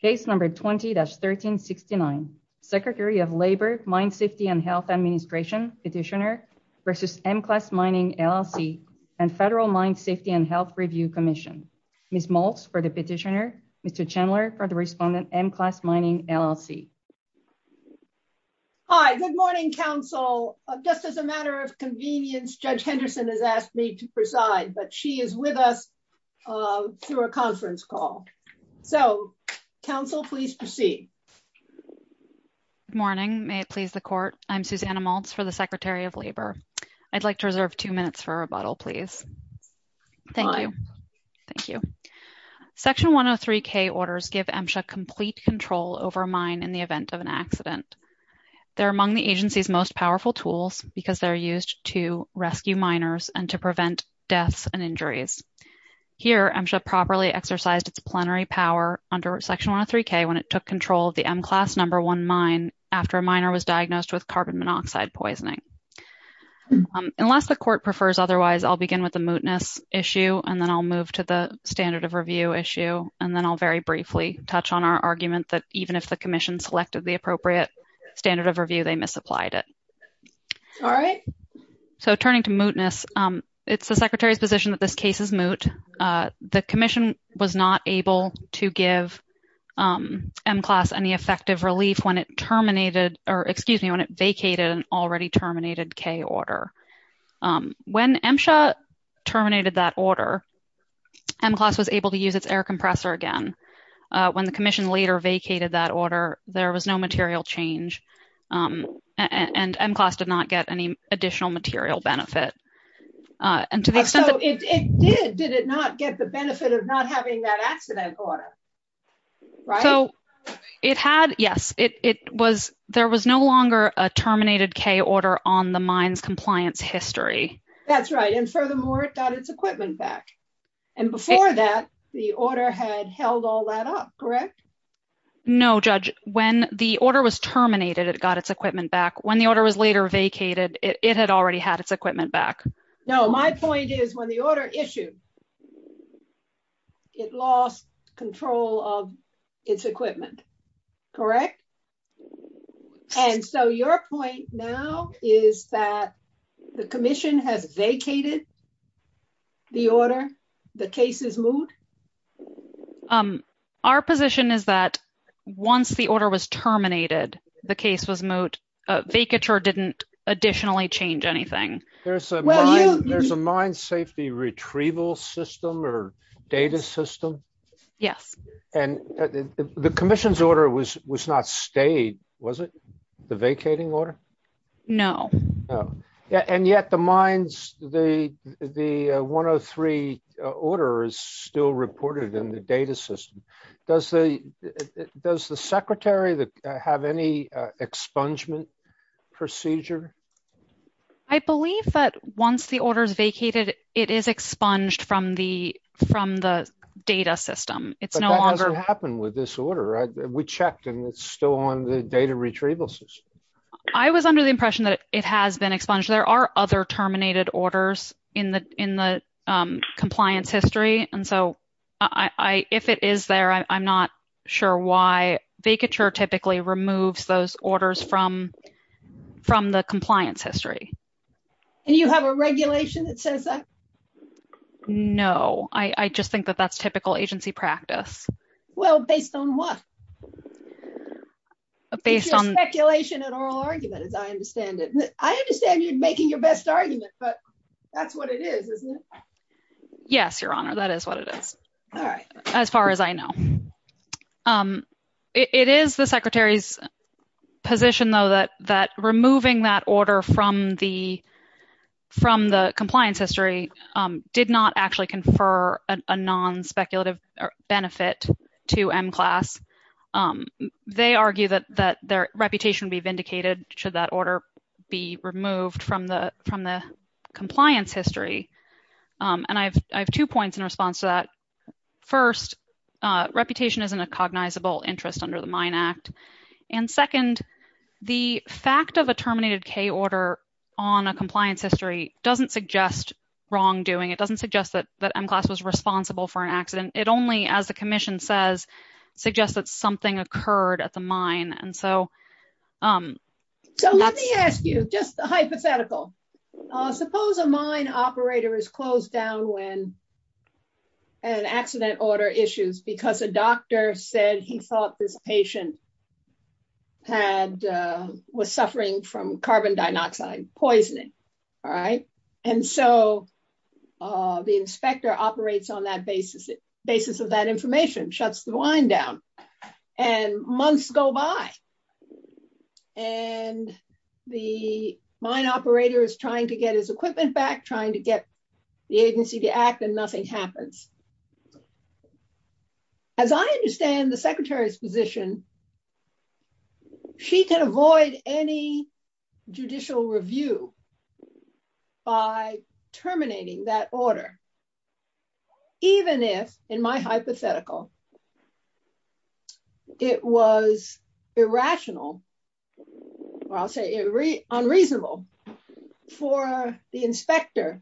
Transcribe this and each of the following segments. Case No. 20-1369, Secretary of Labor, Mine Safety and Health Administration, Petitioner v. M-Class Mining, LLC, and Federal Mine Safety and Health Review Commission. Ms. Maltz for the Petitioner, Mr. Chandler for the Respondent, M-Class Mining, LLC. Hi, good morning, Council. Just as a matter of convenience, Judge Henderson has asked me to So, Council, please proceed. Good morning. May it please the Court, I'm Susanna Maltz for the Secretary of Labor. I'd like to reserve two minutes for rebuttal, please. Thank you. Thank you. Section 103K orders give MSHA complete control over a mine in the event of an accident. They're among the agency's most powerful tools because they're used to rescue miners and to its plenary power under Section 103K when it took control of the M-Class No. 1 mine after a miner was diagnosed with carbon monoxide poisoning. Unless the Court prefers otherwise, I'll begin with the mootness issue, and then I'll move to the standard of review issue, and then I'll very briefly touch on our argument that even if the Commission selected the appropriate standard of review, they misapplied it. All right. So, turning to mootness, it's the Secretary's position that this case is moot. The Commission was not able to give M-Class any effective relief when it terminated, or excuse me, when it vacated an already terminated K order. When MSHA terminated that order, M-Class was able to use its air compressor again. When the Commission later vacated that order, there was no material change, and M-Class did not get any additional material benefit. And so, it did. Did it not get the benefit of not having that accident order, right? So, it had, yes. There was no longer a terminated K order on the mine's compliance history. That's right, and furthermore, it got its equipment back. And before that, the order had held all that up, correct? No, Judge. When the order was terminated, it got its equipment back. When the order was later vacated, it had already had its equipment back. No, my point is, when the order issued, it lost control of its equipment, correct? And so, your point now is that the Commission has vacated the order, the case is moot? Our position is that once the order was terminated, the case was moot. Vacature didn't additionally change anything. There's a mine safety retrieval system or data system? Yes. And the Commission's order was not stayed, was it? The vacating order? No. Yeah, and yet the mines, the 103 order is still reported in the data system. Does the Secretary have any expungement procedure? I believe that once the order is vacated, it is expunged from the data system. It's no longer- That doesn't happen with this order, right? We checked and it's still on the data retrieval system. I was under the impression that it has been expunged. There are other terminated orders in the compliance history. And so, if it is there, I'm not sure why. Vacature typically removes those orders from the compliance history. And you have a regulation that says that? No, I just think that that's typical agency practice. Well, based on what? Based on- An oral argument, as I understand it. I understand you're making your best argument, but that's what it is, isn't it? Yes, Your Honor, that is what it is. All right. As far as I know. It is the Secretary's position, though, that removing that order from the compliance history did not actually confer a non-speculative benefit to M-Class. They argue that their reputation would be vindicated should that order be removed from the compliance history. And I have two points in response to that. First, reputation isn't a cognizable interest under the MINE Act. And second, the fact of a terminated K order on a compliance history doesn't suggest wrongdoing. It doesn't suggest that M-Class was responsible for an accident. It only, as the commission says, suggests that something occurred at the mine. And so- So let me ask you just a hypothetical. Suppose a mine operator is closed down when an accident order issues because a doctor said he thought this patient was suffering from carbon dioxide poisoning. All right. And so the inspector operates on that basis. The basis of that information shuts the mine down and months go by. And the mine operator is trying to get his equipment back, trying to get the agency to act, and nothing happens. As I understand the Secretary's position, she can avoid any judicial review by terminating that order, even if, in my hypothetical, it was irrational, or I'll say unreasonable, for the inspector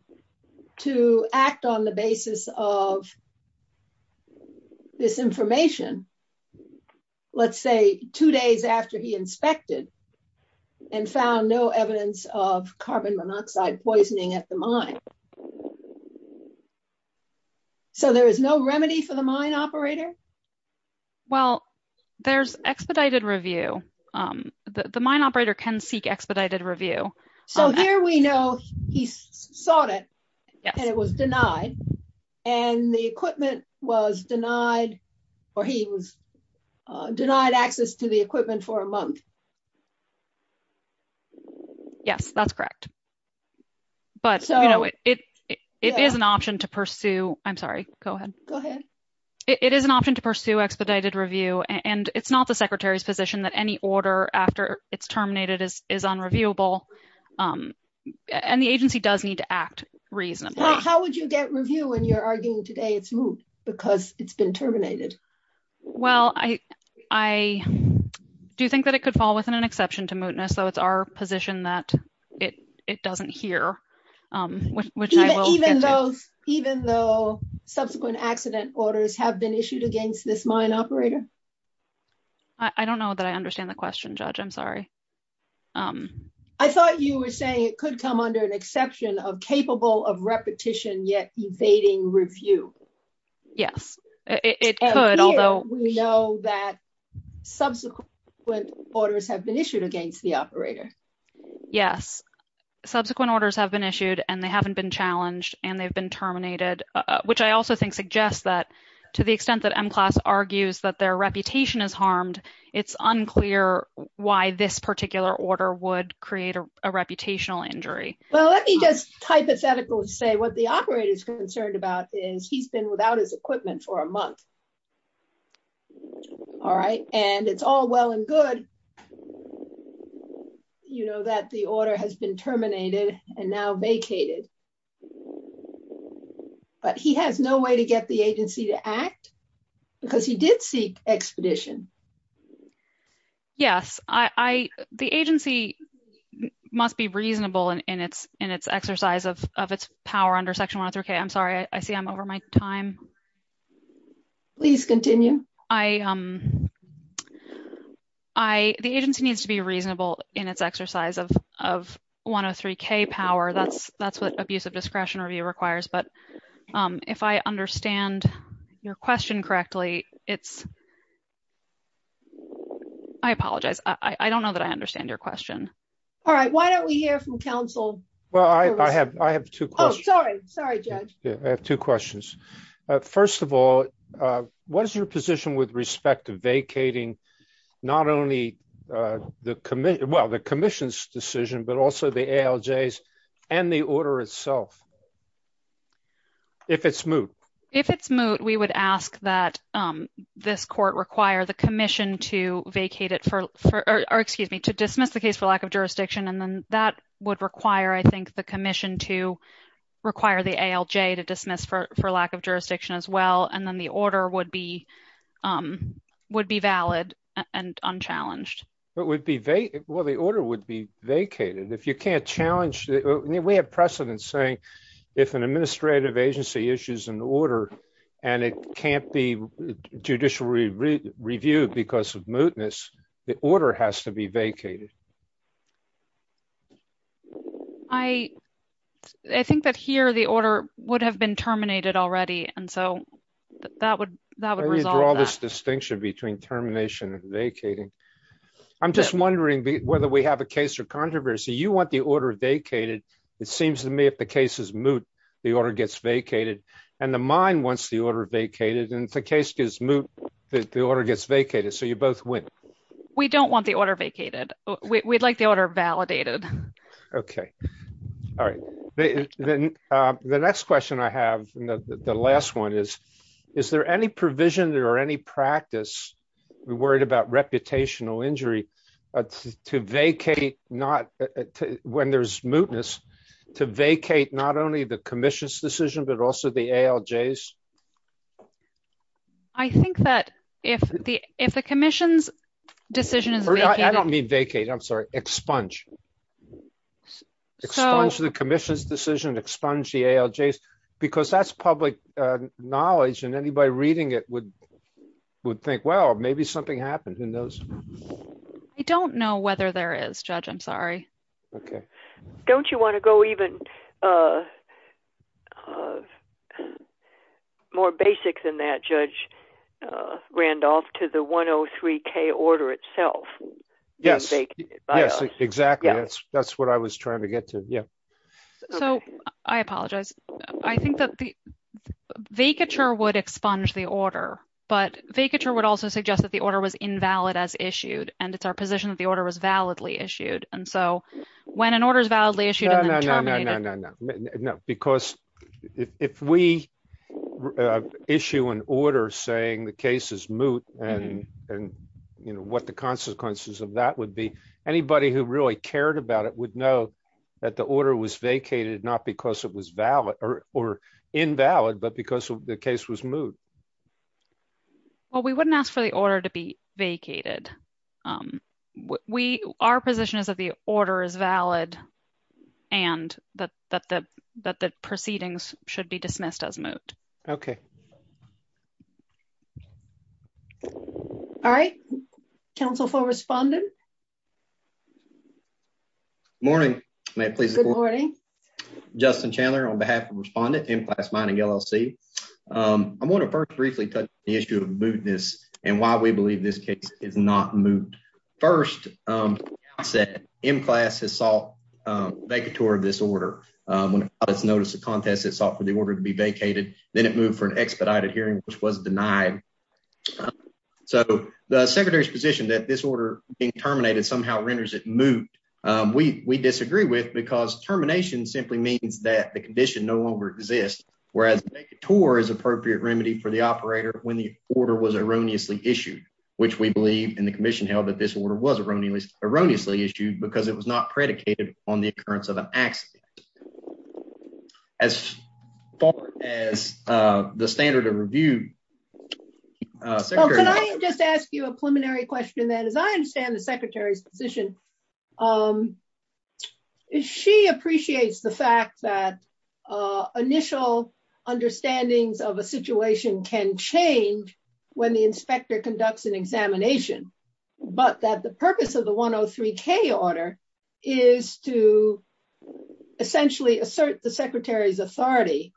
to act on the basis of this information, let's say, two days after he inspected and found no evidence of carbon monoxide poisoning at the mine. So there is no remedy for the mine operator? Well, there's expedited review. The mine operator can seek expedited review. So here we know he sought it, and it was denied, and the equipment was denied, or he was denied access to the equipment for a month. Yes, that's correct. But it is an option to pursue. I'm sorry. Go ahead. Go ahead. It is an option to pursue expedited review, and it's not the Secretary's position that any order after it's terminated is unreviewable. And the agency does need to act reasonably. How would you get review when you're arguing today it's moot because it's been terminated? Well, I do think that it could fall within an exception to mootness, though it's our position that it doesn't hear, which I will get to. Even though subsequent accident orders have been issued against this mine operator? I don't know that I understand the question, Judge. I'm sorry. I thought you were saying it could come under an exception of capable of repetition, yet evading review. Yes, it could. Although we know that subsequent orders have been issued against the operator. Yes, subsequent orders have been issued, and they haven't been challenged, and they've been terminated, which I also think suggests that it's unclear why this particular order would create a reputational injury. Well, let me just hypothetically say what the operator is concerned about is he's been without his equipment for a month. All right, and it's all well and good, you know, that the order has been terminated and now vacated. But he has no way to get the agency to act because he did seek expedition. Yes, I, the agency must be reasonable in its exercise of its power under Section 103K. I'm sorry, I see I'm over my time. Please continue. The agency needs to be reasonable in its exercise of 103K power. That's what abuse of discretion review requires. If I understand your question correctly, it's, I apologize, I don't know that I understand your question. All right, why don't we hear from counsel? Well, I have two questions. Oh, sorry, sorry, Judge. I have two questions. First of all, what is your position with respect to vacating not only the commission, well, the commission's decision, but also the ALJ's and the order itself? If it's moot. If it's moot, we would ask that this court require the commission to vacate it for, or excuse me, to dismiss the case for lack of jurisdiction. And then that would require, I think, the commission to require the ALJ to dismiss for lack of jurisdiction as well. And then the order would be valid and unchallenged. It would be, well, the order would be vacated. If you can't challenge, we have precedence saying if an administrative agency issues an order and it can't be judicially reviewed because of mootness, the order has to be vacated. I think that here the order would have been terminated already. And so that would, that would resolve this distinction between termination and vacating. I'm just wondering whether we have a case or controversy. You want the order vacated. It seems to me if the case is moot, the order gets vacated and the mine wants the order vacated. And if the case is moot, the order gets vacated. So you both win. We don't want the order vacated. We'd like the order validated. Okay. All right. The next question I have, the last one is, is there any provision or any practice, we're worried about reputational injury, to vacate not, when there's mootness, to vacate not only the commission's decision, but also the ALJs? I think that if the, if the commission's decision is vacated. I don't mean vacate, I'm sorry, expunge. Expunge the commission's decision, expunge the ALJs, because that's public knowledge and anybody reading it would, would think, well, maybe something happened in those. I don't know whether there is, Judge, I'm sorry. Okay. Don't you want to go even, more basic than that, Judge Randolph, to the 103k order itself? Yes, yes, exactly. That's what I was trying to get to. Yeah. So I apologize. I think that the vacature would expunge the order, but vacature would also suggest that the order was invalid as issued. And it's our position that the order was validly issued. And so when an order is validly issued... No, no, no, no, because if we issue an order saying the case is moot, and what the consequences of that would be, anybody who really cared about it would know that the order was vacated, not because it was valid or invalid, but because the case was moot. Well, we wouldn't ask for the order to be vacated. We, our position is that the order is valid and that the proceedings should be dismissed as moot. Okay. All right. Council for Respondent. Morning. May it please the Court. Good morning. Justin Chandler on behalf of Respondent, M-Class Mining, LLC. I want to first briefly touch on the issue of mootness and why we believe this case is not moot. First, I said M-Class has sought vacature of this order. When it's noticed a contest, it sought for the order to be vacated. Then it moved for an expedited hearing, which was denied. So the Secretary's position that this order being terminated somehow renders it moot, we disagree with because termination simply means that the condition no longer exists. Whereas a tour is appropriate remedy for the operator when the order was erroneously issued, which we believe in the commission held that this order was erroneously issued because it was not predicated on the occurrence of an accident. As far as the standard of review. Well, can I just ask you a preliminary question then? As I understand the Secretary's position, she appreciates the fact that initial understandings of a situation can change when the inspector conducts an examination, but that the purpose of the 103-K order is to essentially assert the Secretary's authority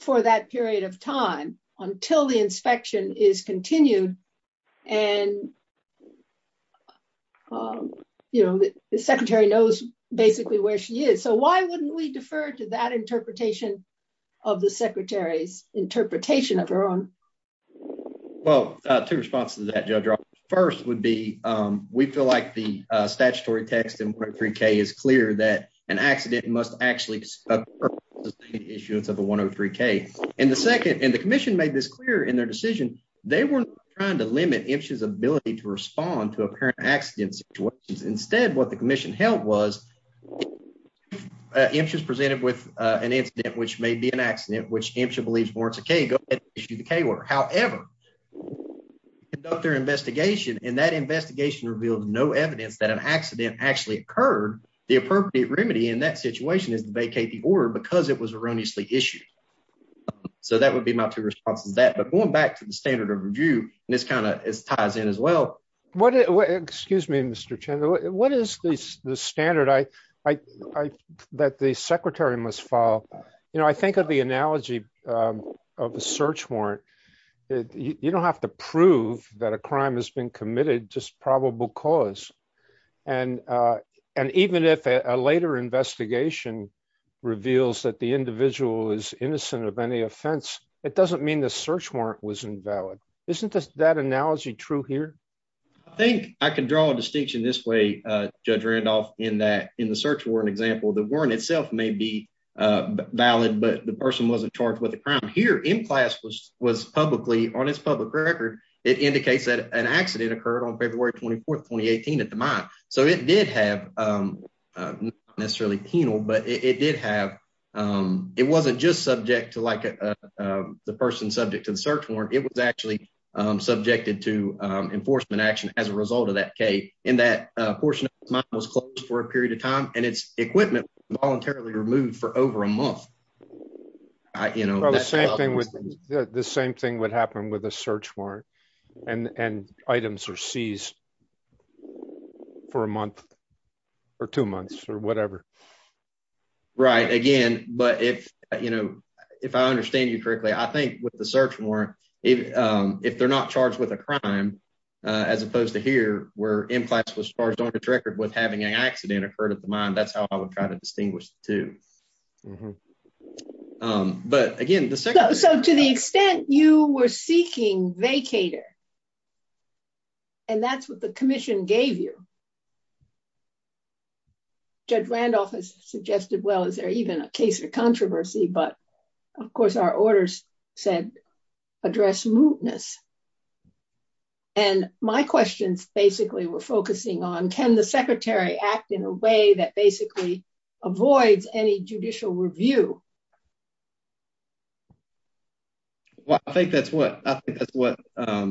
for that period of time until the inspection is continued. And, you know, the Secretary knows basically where she is. So why wouldn't we defer to that interpretation of the Secretary's interpretation of her own? Well, two responses to that, Judge Roberts. First would be, we feel like the statutory text in 103-K is clear that an accident must actually occur until the 103-K. And the second, and the commission made this clear in their decision, they weren't trying to limit Imsha's ability to respond to apparent accident situations. Instead, what the commission held was, Imsha's presented with an incident which may be an accident, which Imsha believes warrants a K, go ahead and issue the K order. However, conduct their investigation and that investigation revealed no evidence that an accident actually occurred, the appropriate remedy in that situation is to vacate the order because it was erroneously issued. So that would be my two responses to that. But going back to the standard of review, this kind of ties in as well. Excuse me, Mr. Chandler. What is the standard that the Secretary must follow? You know, I think of the analogy of a search warrant. You don't have to prove that a crime has been committed, just probable cause. And even if a later investigation reveals that the individual is innocent of any offense, it doesn't mean the search warrant was invalid. Isn't that analogy true here? I think I can draw a distinction this way, Judge Randolph, in that in the search warrant example, the warrant itself may be valid, but the person wasn't charged with a crime here in class was publicly on his public record. It indicates that an accident occurred on February 24th, 2018 at the mine. So it did have necessarily penal, but it did have, it wasn't just subject to like the person subject to the search warrant. It was actually subjected to enforcement action as a result of that case. In that portion of the mine was closed for a period of time and its equipment voluntarily removed for over a month. The same thing would happen with a search warrant and items are seized for a month or two months or whatever. Right. Again, but if, you know, if I understand you correctly, I think with the search warrant, if they're not charged with a crime, as opposed to here, where in-class was charged on its record with having an accident occurred at the mine, that's how I would try to distinguish the two. But again, so to the extent you were seeking vacator, and that's what the commission gave you, Judge Randolph has suggested, well, is there even a case of controversy? But of course our orders said address mootness. And my questions basically were focusing on, can the secretary act in a way that basically avoids any judicial review? Well, I think that's what, I think that's what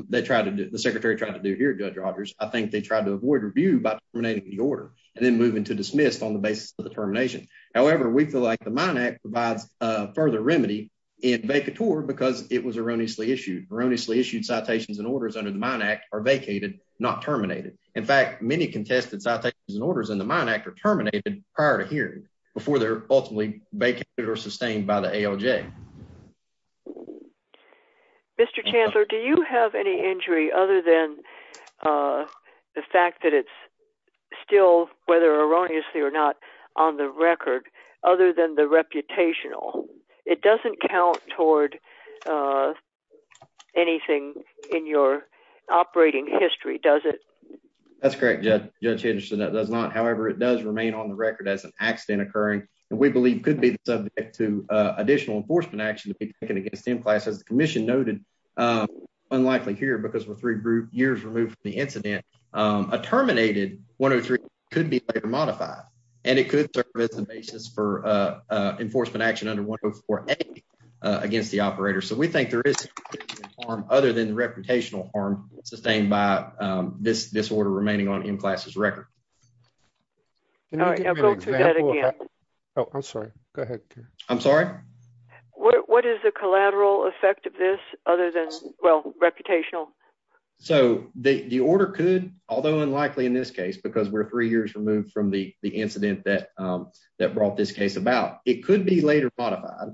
they try to do. The secretary tried to do here, Judge Rogers. I think they tried to avoid review by terminating the order and then move into dismissed on the basis of the termination. However, we feel like the Mine Act provides a further remedy in vacator because it was erroneously issued. Erroneously issued citations and orders under the Mine Act are vacated, not terminated. In fact, many contested citations and orders in the Mine Act are terminated prior to hearing before they're ultimately vacated or sustained by the ALJ. Mr. Chancellor, do you have any injury other than the fact that it's still, whether erroneously or not, on the record, other than the reputational? It doesn't count toward anything in your operating history, does it? That's correct, Judge Henderson, that does not. However, it does remain on the record as an accident occurring, and we believe could be subject to additional enforcement action to be taken against M-Class. As the commission noted, unlikely here because we're three years removed from the incident. A terminated 103 could be later modified, and it could serve as the basis for enforcement action under 104A against the operator. So we think there is harm other than the reputational harm sustained by this order remaining on M-Class's record. Can you give me an example of that? Oh, I'm sorry, go ahead. I'm sorry? What is the collateral effect of this other than, well, reputational? So the order could, although unlikely in this case, because we're three years removed from the incident that brought this case about, it could be later modified.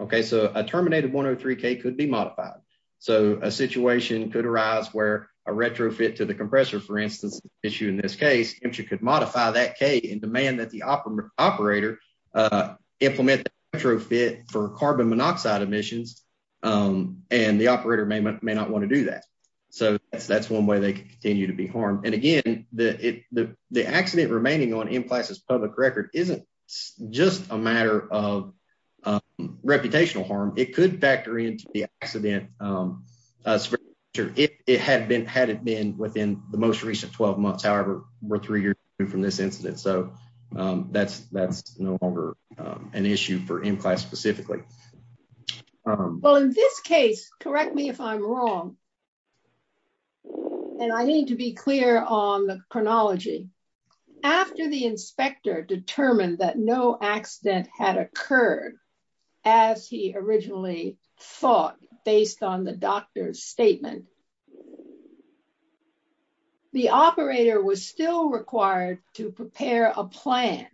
Okay, so a terminated 103K could be modified. So a situation could arise where a retrofit to the compressor, for instance, issue in this case, and you could modify that K and demand that the operator implement the retrofit for carbon monoxide emissions, and the operator may not want to do that. So that's one way they can continue to be harmed. And again, the accident remaining on M-Class's public record isn't just a matter of reputational harm. It could factor into the accident. It's very true. Had it been within the most recent 12 months, however, we're three years from this incident. So that's no longer an issue for M-Class specifically. Well, in this case, correct me if I'm wrong, and I need to be clear on the chronology. After the inspector determined that no accident had occurred as he originally thought based on the doctor's statement, the operator was still required to prepare a plan.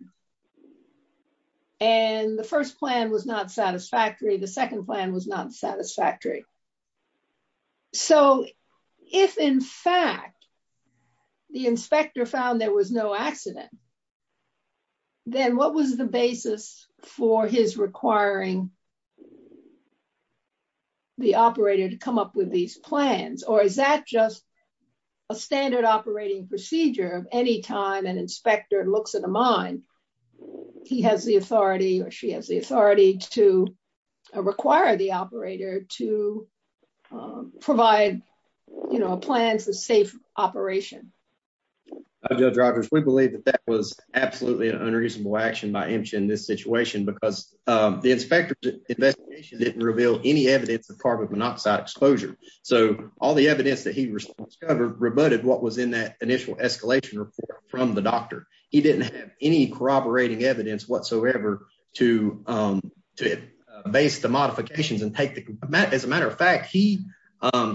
And the first plan was not satisfactory. The second plan was not satisfactory. So if in fact, the inspector found there was no accident, then what was the basis for his requiring the operator to come up with these plans? Or is that just a standard operating procedure of any time an inspector looks at a mine, he has the authority or she has the authority to require the operator to provide plans of safe operation? Hi, Judge Rogers. We believe that that was absolutely an unreasonable action by Imch in this situation because the inspector's investigation didn't reveal any evidence of carbon monoxide exposure. So all the evidence that he discovered rebutted what was in that initial escalation report from the doctor. He didn't have any corroborating evidence whatsoever to base the modifications and take the... As a matter of fact, he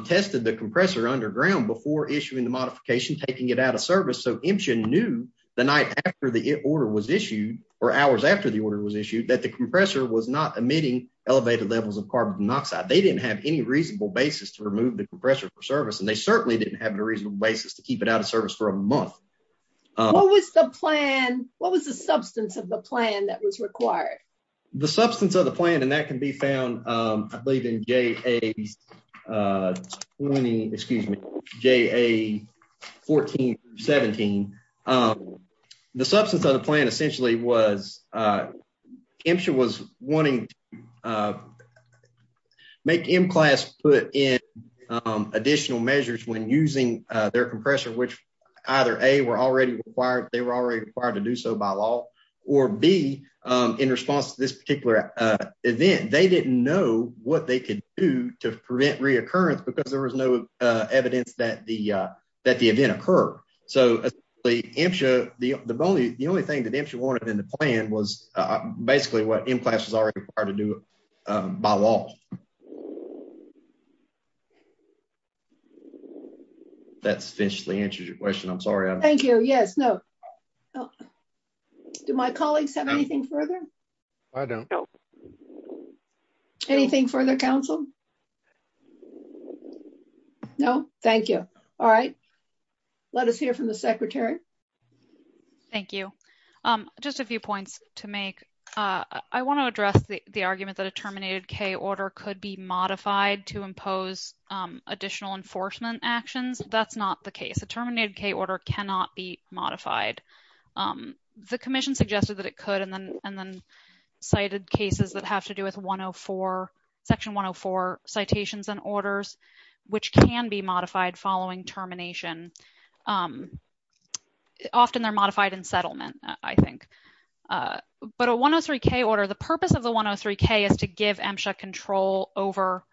tested the compressor underground before issuing the modification, taking it out of service. So Imch knew the night after the order was issued or hours after the order was issued that the compressor was not emitting elevated levels of carbon monoxide. They didn't have any reasonable basis to remove the compressor for service. And they certainly didn't have a reasonable basis to keep it out of service for a month. What was the plan? What was the substance of the plan that was required? The substance of the plan, and that can be found, I believe in JA20, excuse me, JA1417. The substance of the plan essentially was Imch was wanting to make M-Class put in additional measures when using their compressor, which either A, they were already required to do so by law or B, in response to this particular event, they didn't know what they could do to prevent reoccurrence because there was no evidence that the event occurred. So the only thing that Imch wanted in the plan was basically what M-Class was already required to do by law. That's officially answers your question. I'm sorry. Thank you. Yes. No. Do my colleagues have anything further? I don't. Anything further council? No, thank you. All right. Let us hear from the secretary. Thank you. Just a few points to make. I want to address the argument that a terminated K order could be modified to impose additional enforcement actions. That's not the case. A terminated K order cannot be modified. The commission suggested that it could and then cited cases that have to do with section 104 citations and orders, which can be modified following termination. Often they're modified in settlement, I think. But a 103 K order, the purpose of the 103 K is to give Imch control over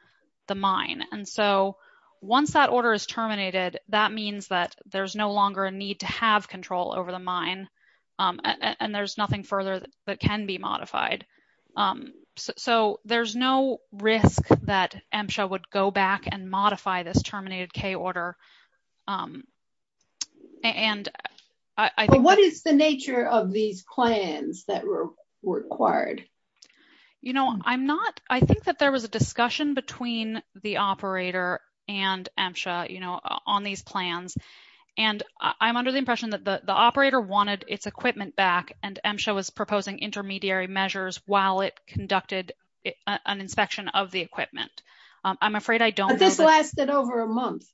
the mine. And so once that order is terminated, that means that there's no longer a need to have control over the mine. And there's nothing further that can be modified. So there's no risk that Imcha would go back and modify this terminated K order. And I think. What is the nature of these plans that were required? You know, I'm not, I think that there was a discussion between the operator and Imcha, you know, on these plans. And I'm under the impression that the operator wanted its equipment back and Imcha was proposing intermediary measures while it conducted an inspection of the equipment. I'm afraid I don't know. But this lasted over a month.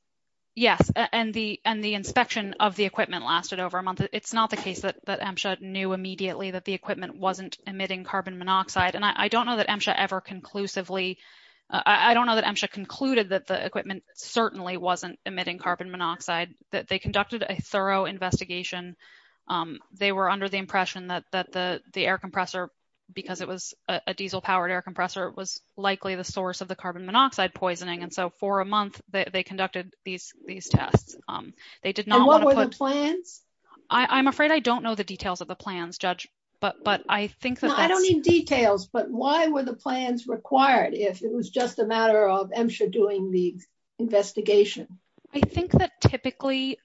Yes, and the inspection of the equipment lasted over a month. It's not the case that Imcha knew immediately that the equipment wasn't emitting carbon monoxide. And I don't know that Imcha ever conclusively. I don't know that Imcha concluded that the equipment certainly wasn't emitting carbon monoxide. That they conducted a thorough investigation. They were under the impression that the air compressor, because it was a diesel powered air compressor, it was likely the source of the carbon monoxide poisoning. And so for a month, they conducted these tests. They did not want to put. And what were the plans? I'm afraid I don't know the details of the plans, Judge. But I think that. I don't need details. But why were the plans required if it was just a matter of Imcha doing the investigation? I think that typically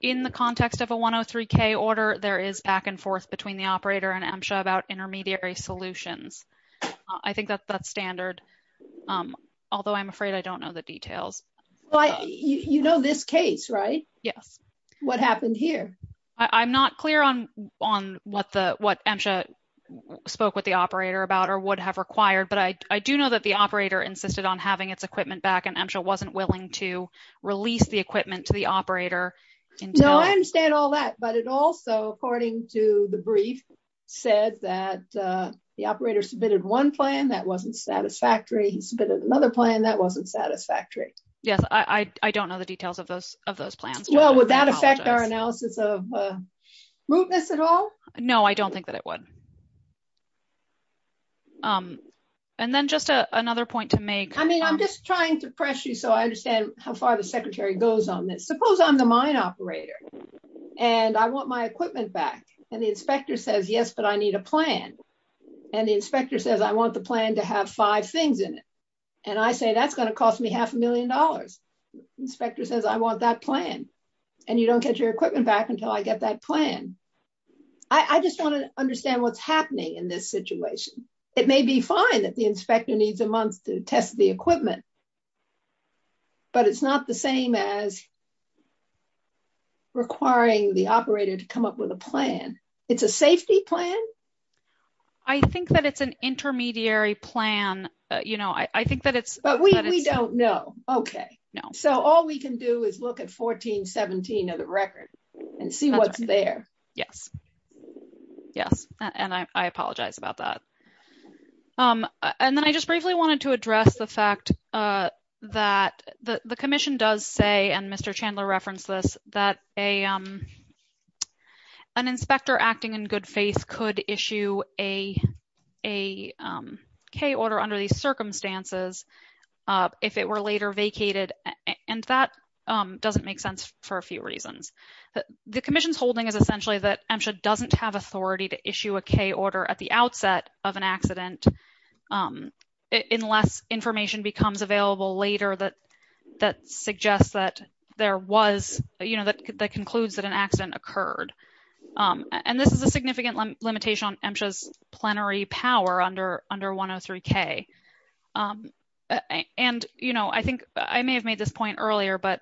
in the context of a 103k order, there is back and forth between the operator and Imcha about intermediary solutions. I think that that's standard. Although I'm afraid I don't know the details. You know this case, right? Yes. What happened here? I'm not clear on what Imcha spoke with the operator about or would have required. But I do know that the operator insisted on having its equipment back. Imcha wasn't willing to release the equipment to the operator. No, I understand all that. But it also, according to the brief, said that the operator submitted one plan that wasn't satisfactory. He submitted another plan that wasn't satisfactory. Yes, I don't know the details of those of those plans. Well, would that affect our analysis of mootness at all? No, I don't think that it would. And then just another point to make. I'm just trying to pressure you so I understand how far the secretary goes on this. Suppose I'm the mine operator and I want my equipment back. And the inspector says, yes, but I need a plan. And the inspector says, I want the plan to have five things in it. And I say, that's going to cost me half a million dollars. Inspector says, I want that plan. And you don't get your equipment back until I get that plan. I just want to understand what's happening in this situation. It may be fine that the inspector needs a month to test the equipment. But it's not the same as requiring the operator to come up with a plan. It's a safety plan? I think that it's an intermediary plan. But we don't know. OK. So all we can do is look at 1417 of the record and see what's there. Yes. Yes. And I apologize about that. And then I just briefly wanted to address the fact that the commission does say, and Mr. Chandler referenced this, that an inspector acting in good faith could issue a K order under these circumstances if it were later vacated. And that doesn't make sense for a few reasons. The commission's holding is essentially that MSHA doesn't have authority to issue a K order at the outset of an accident unless information becomes available later that suggests that there was, you know, that concludes that an accident occurred. And this is a significant limitation on MSHA's plenary power under 103K. And, you know, I think I may have made this point earlier, but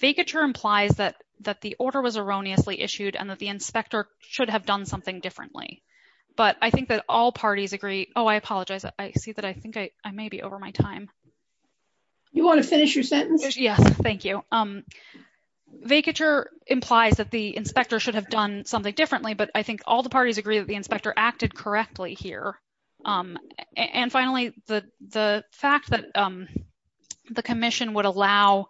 vacature implies that the order was erroneously issued and that the inspector should have done something differently. But I think that all parties agree. Oh, I apologize. I see that I think I may be over my time. You want to finish your sentence? Yes, thank you. Vacature implies that the inspector should have done something differently, but I think all the parties agree that the inspector acted correctly here. And finally, the fact that the commission would allow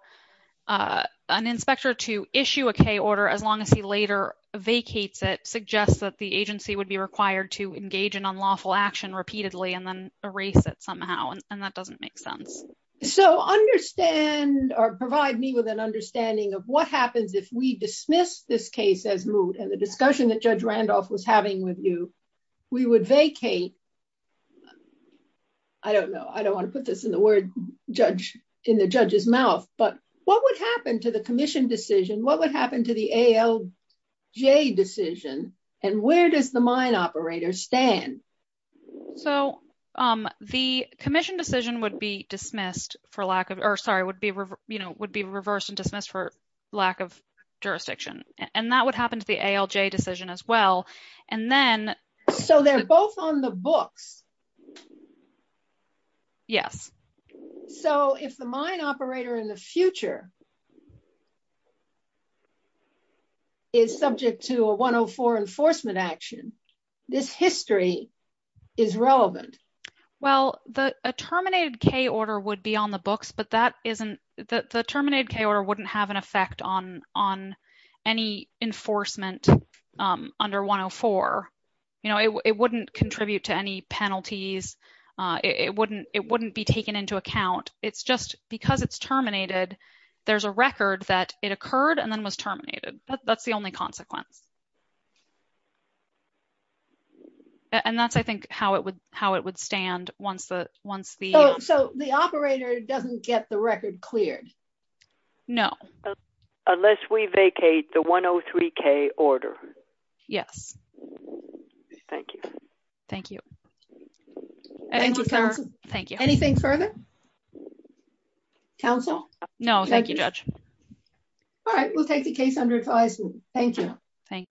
an inspector to issue a K order as long as he later vacates it suggests that the agency would be required to engage in unlawful action repeatedly and then erase it somehow. And that doesn't make sense. So understand or provide me with an understanding of what happens if we dismiss this case as moot and the discussion that Judge Randolph was having with you, we would vacate. I don't know. I don't want to put this in the word judge in the judge's mouth, but what would happen to the commission decision? What would happen to the ALJ decision? And where does the mine operator stand? So the commission decision would be dismissed for lack of or sorry, would be, you know, would be reversed and dismissed for lack of jurisdiction. And that would happen to the ALJ decision as well. And then. So they're both on the books. Yes. So if the mine operator in the future is subject to a 104 enforcement action, this history is relevant. Well, the terminated K order would be on the books, but that isn't the terminated K order wouldn't have an effect on any enforcement under 104. You know, it wouldn't contribute to any penalties. It wouldn't be taken into account. It's just because it's terminated. There's a record that it occurred and then was terminated. That's the only consequence. And that's, I think how it would, how it would stand once the, once the. Oh, so the operator doesn't get the record cleared. No. Unless we vacate the 103 K order. Yes. Thank you. Thank you. Thank you. Anything further? Council? No, thank you, Judge. All right, we'll take the case under advisory. Thank you. Thanks.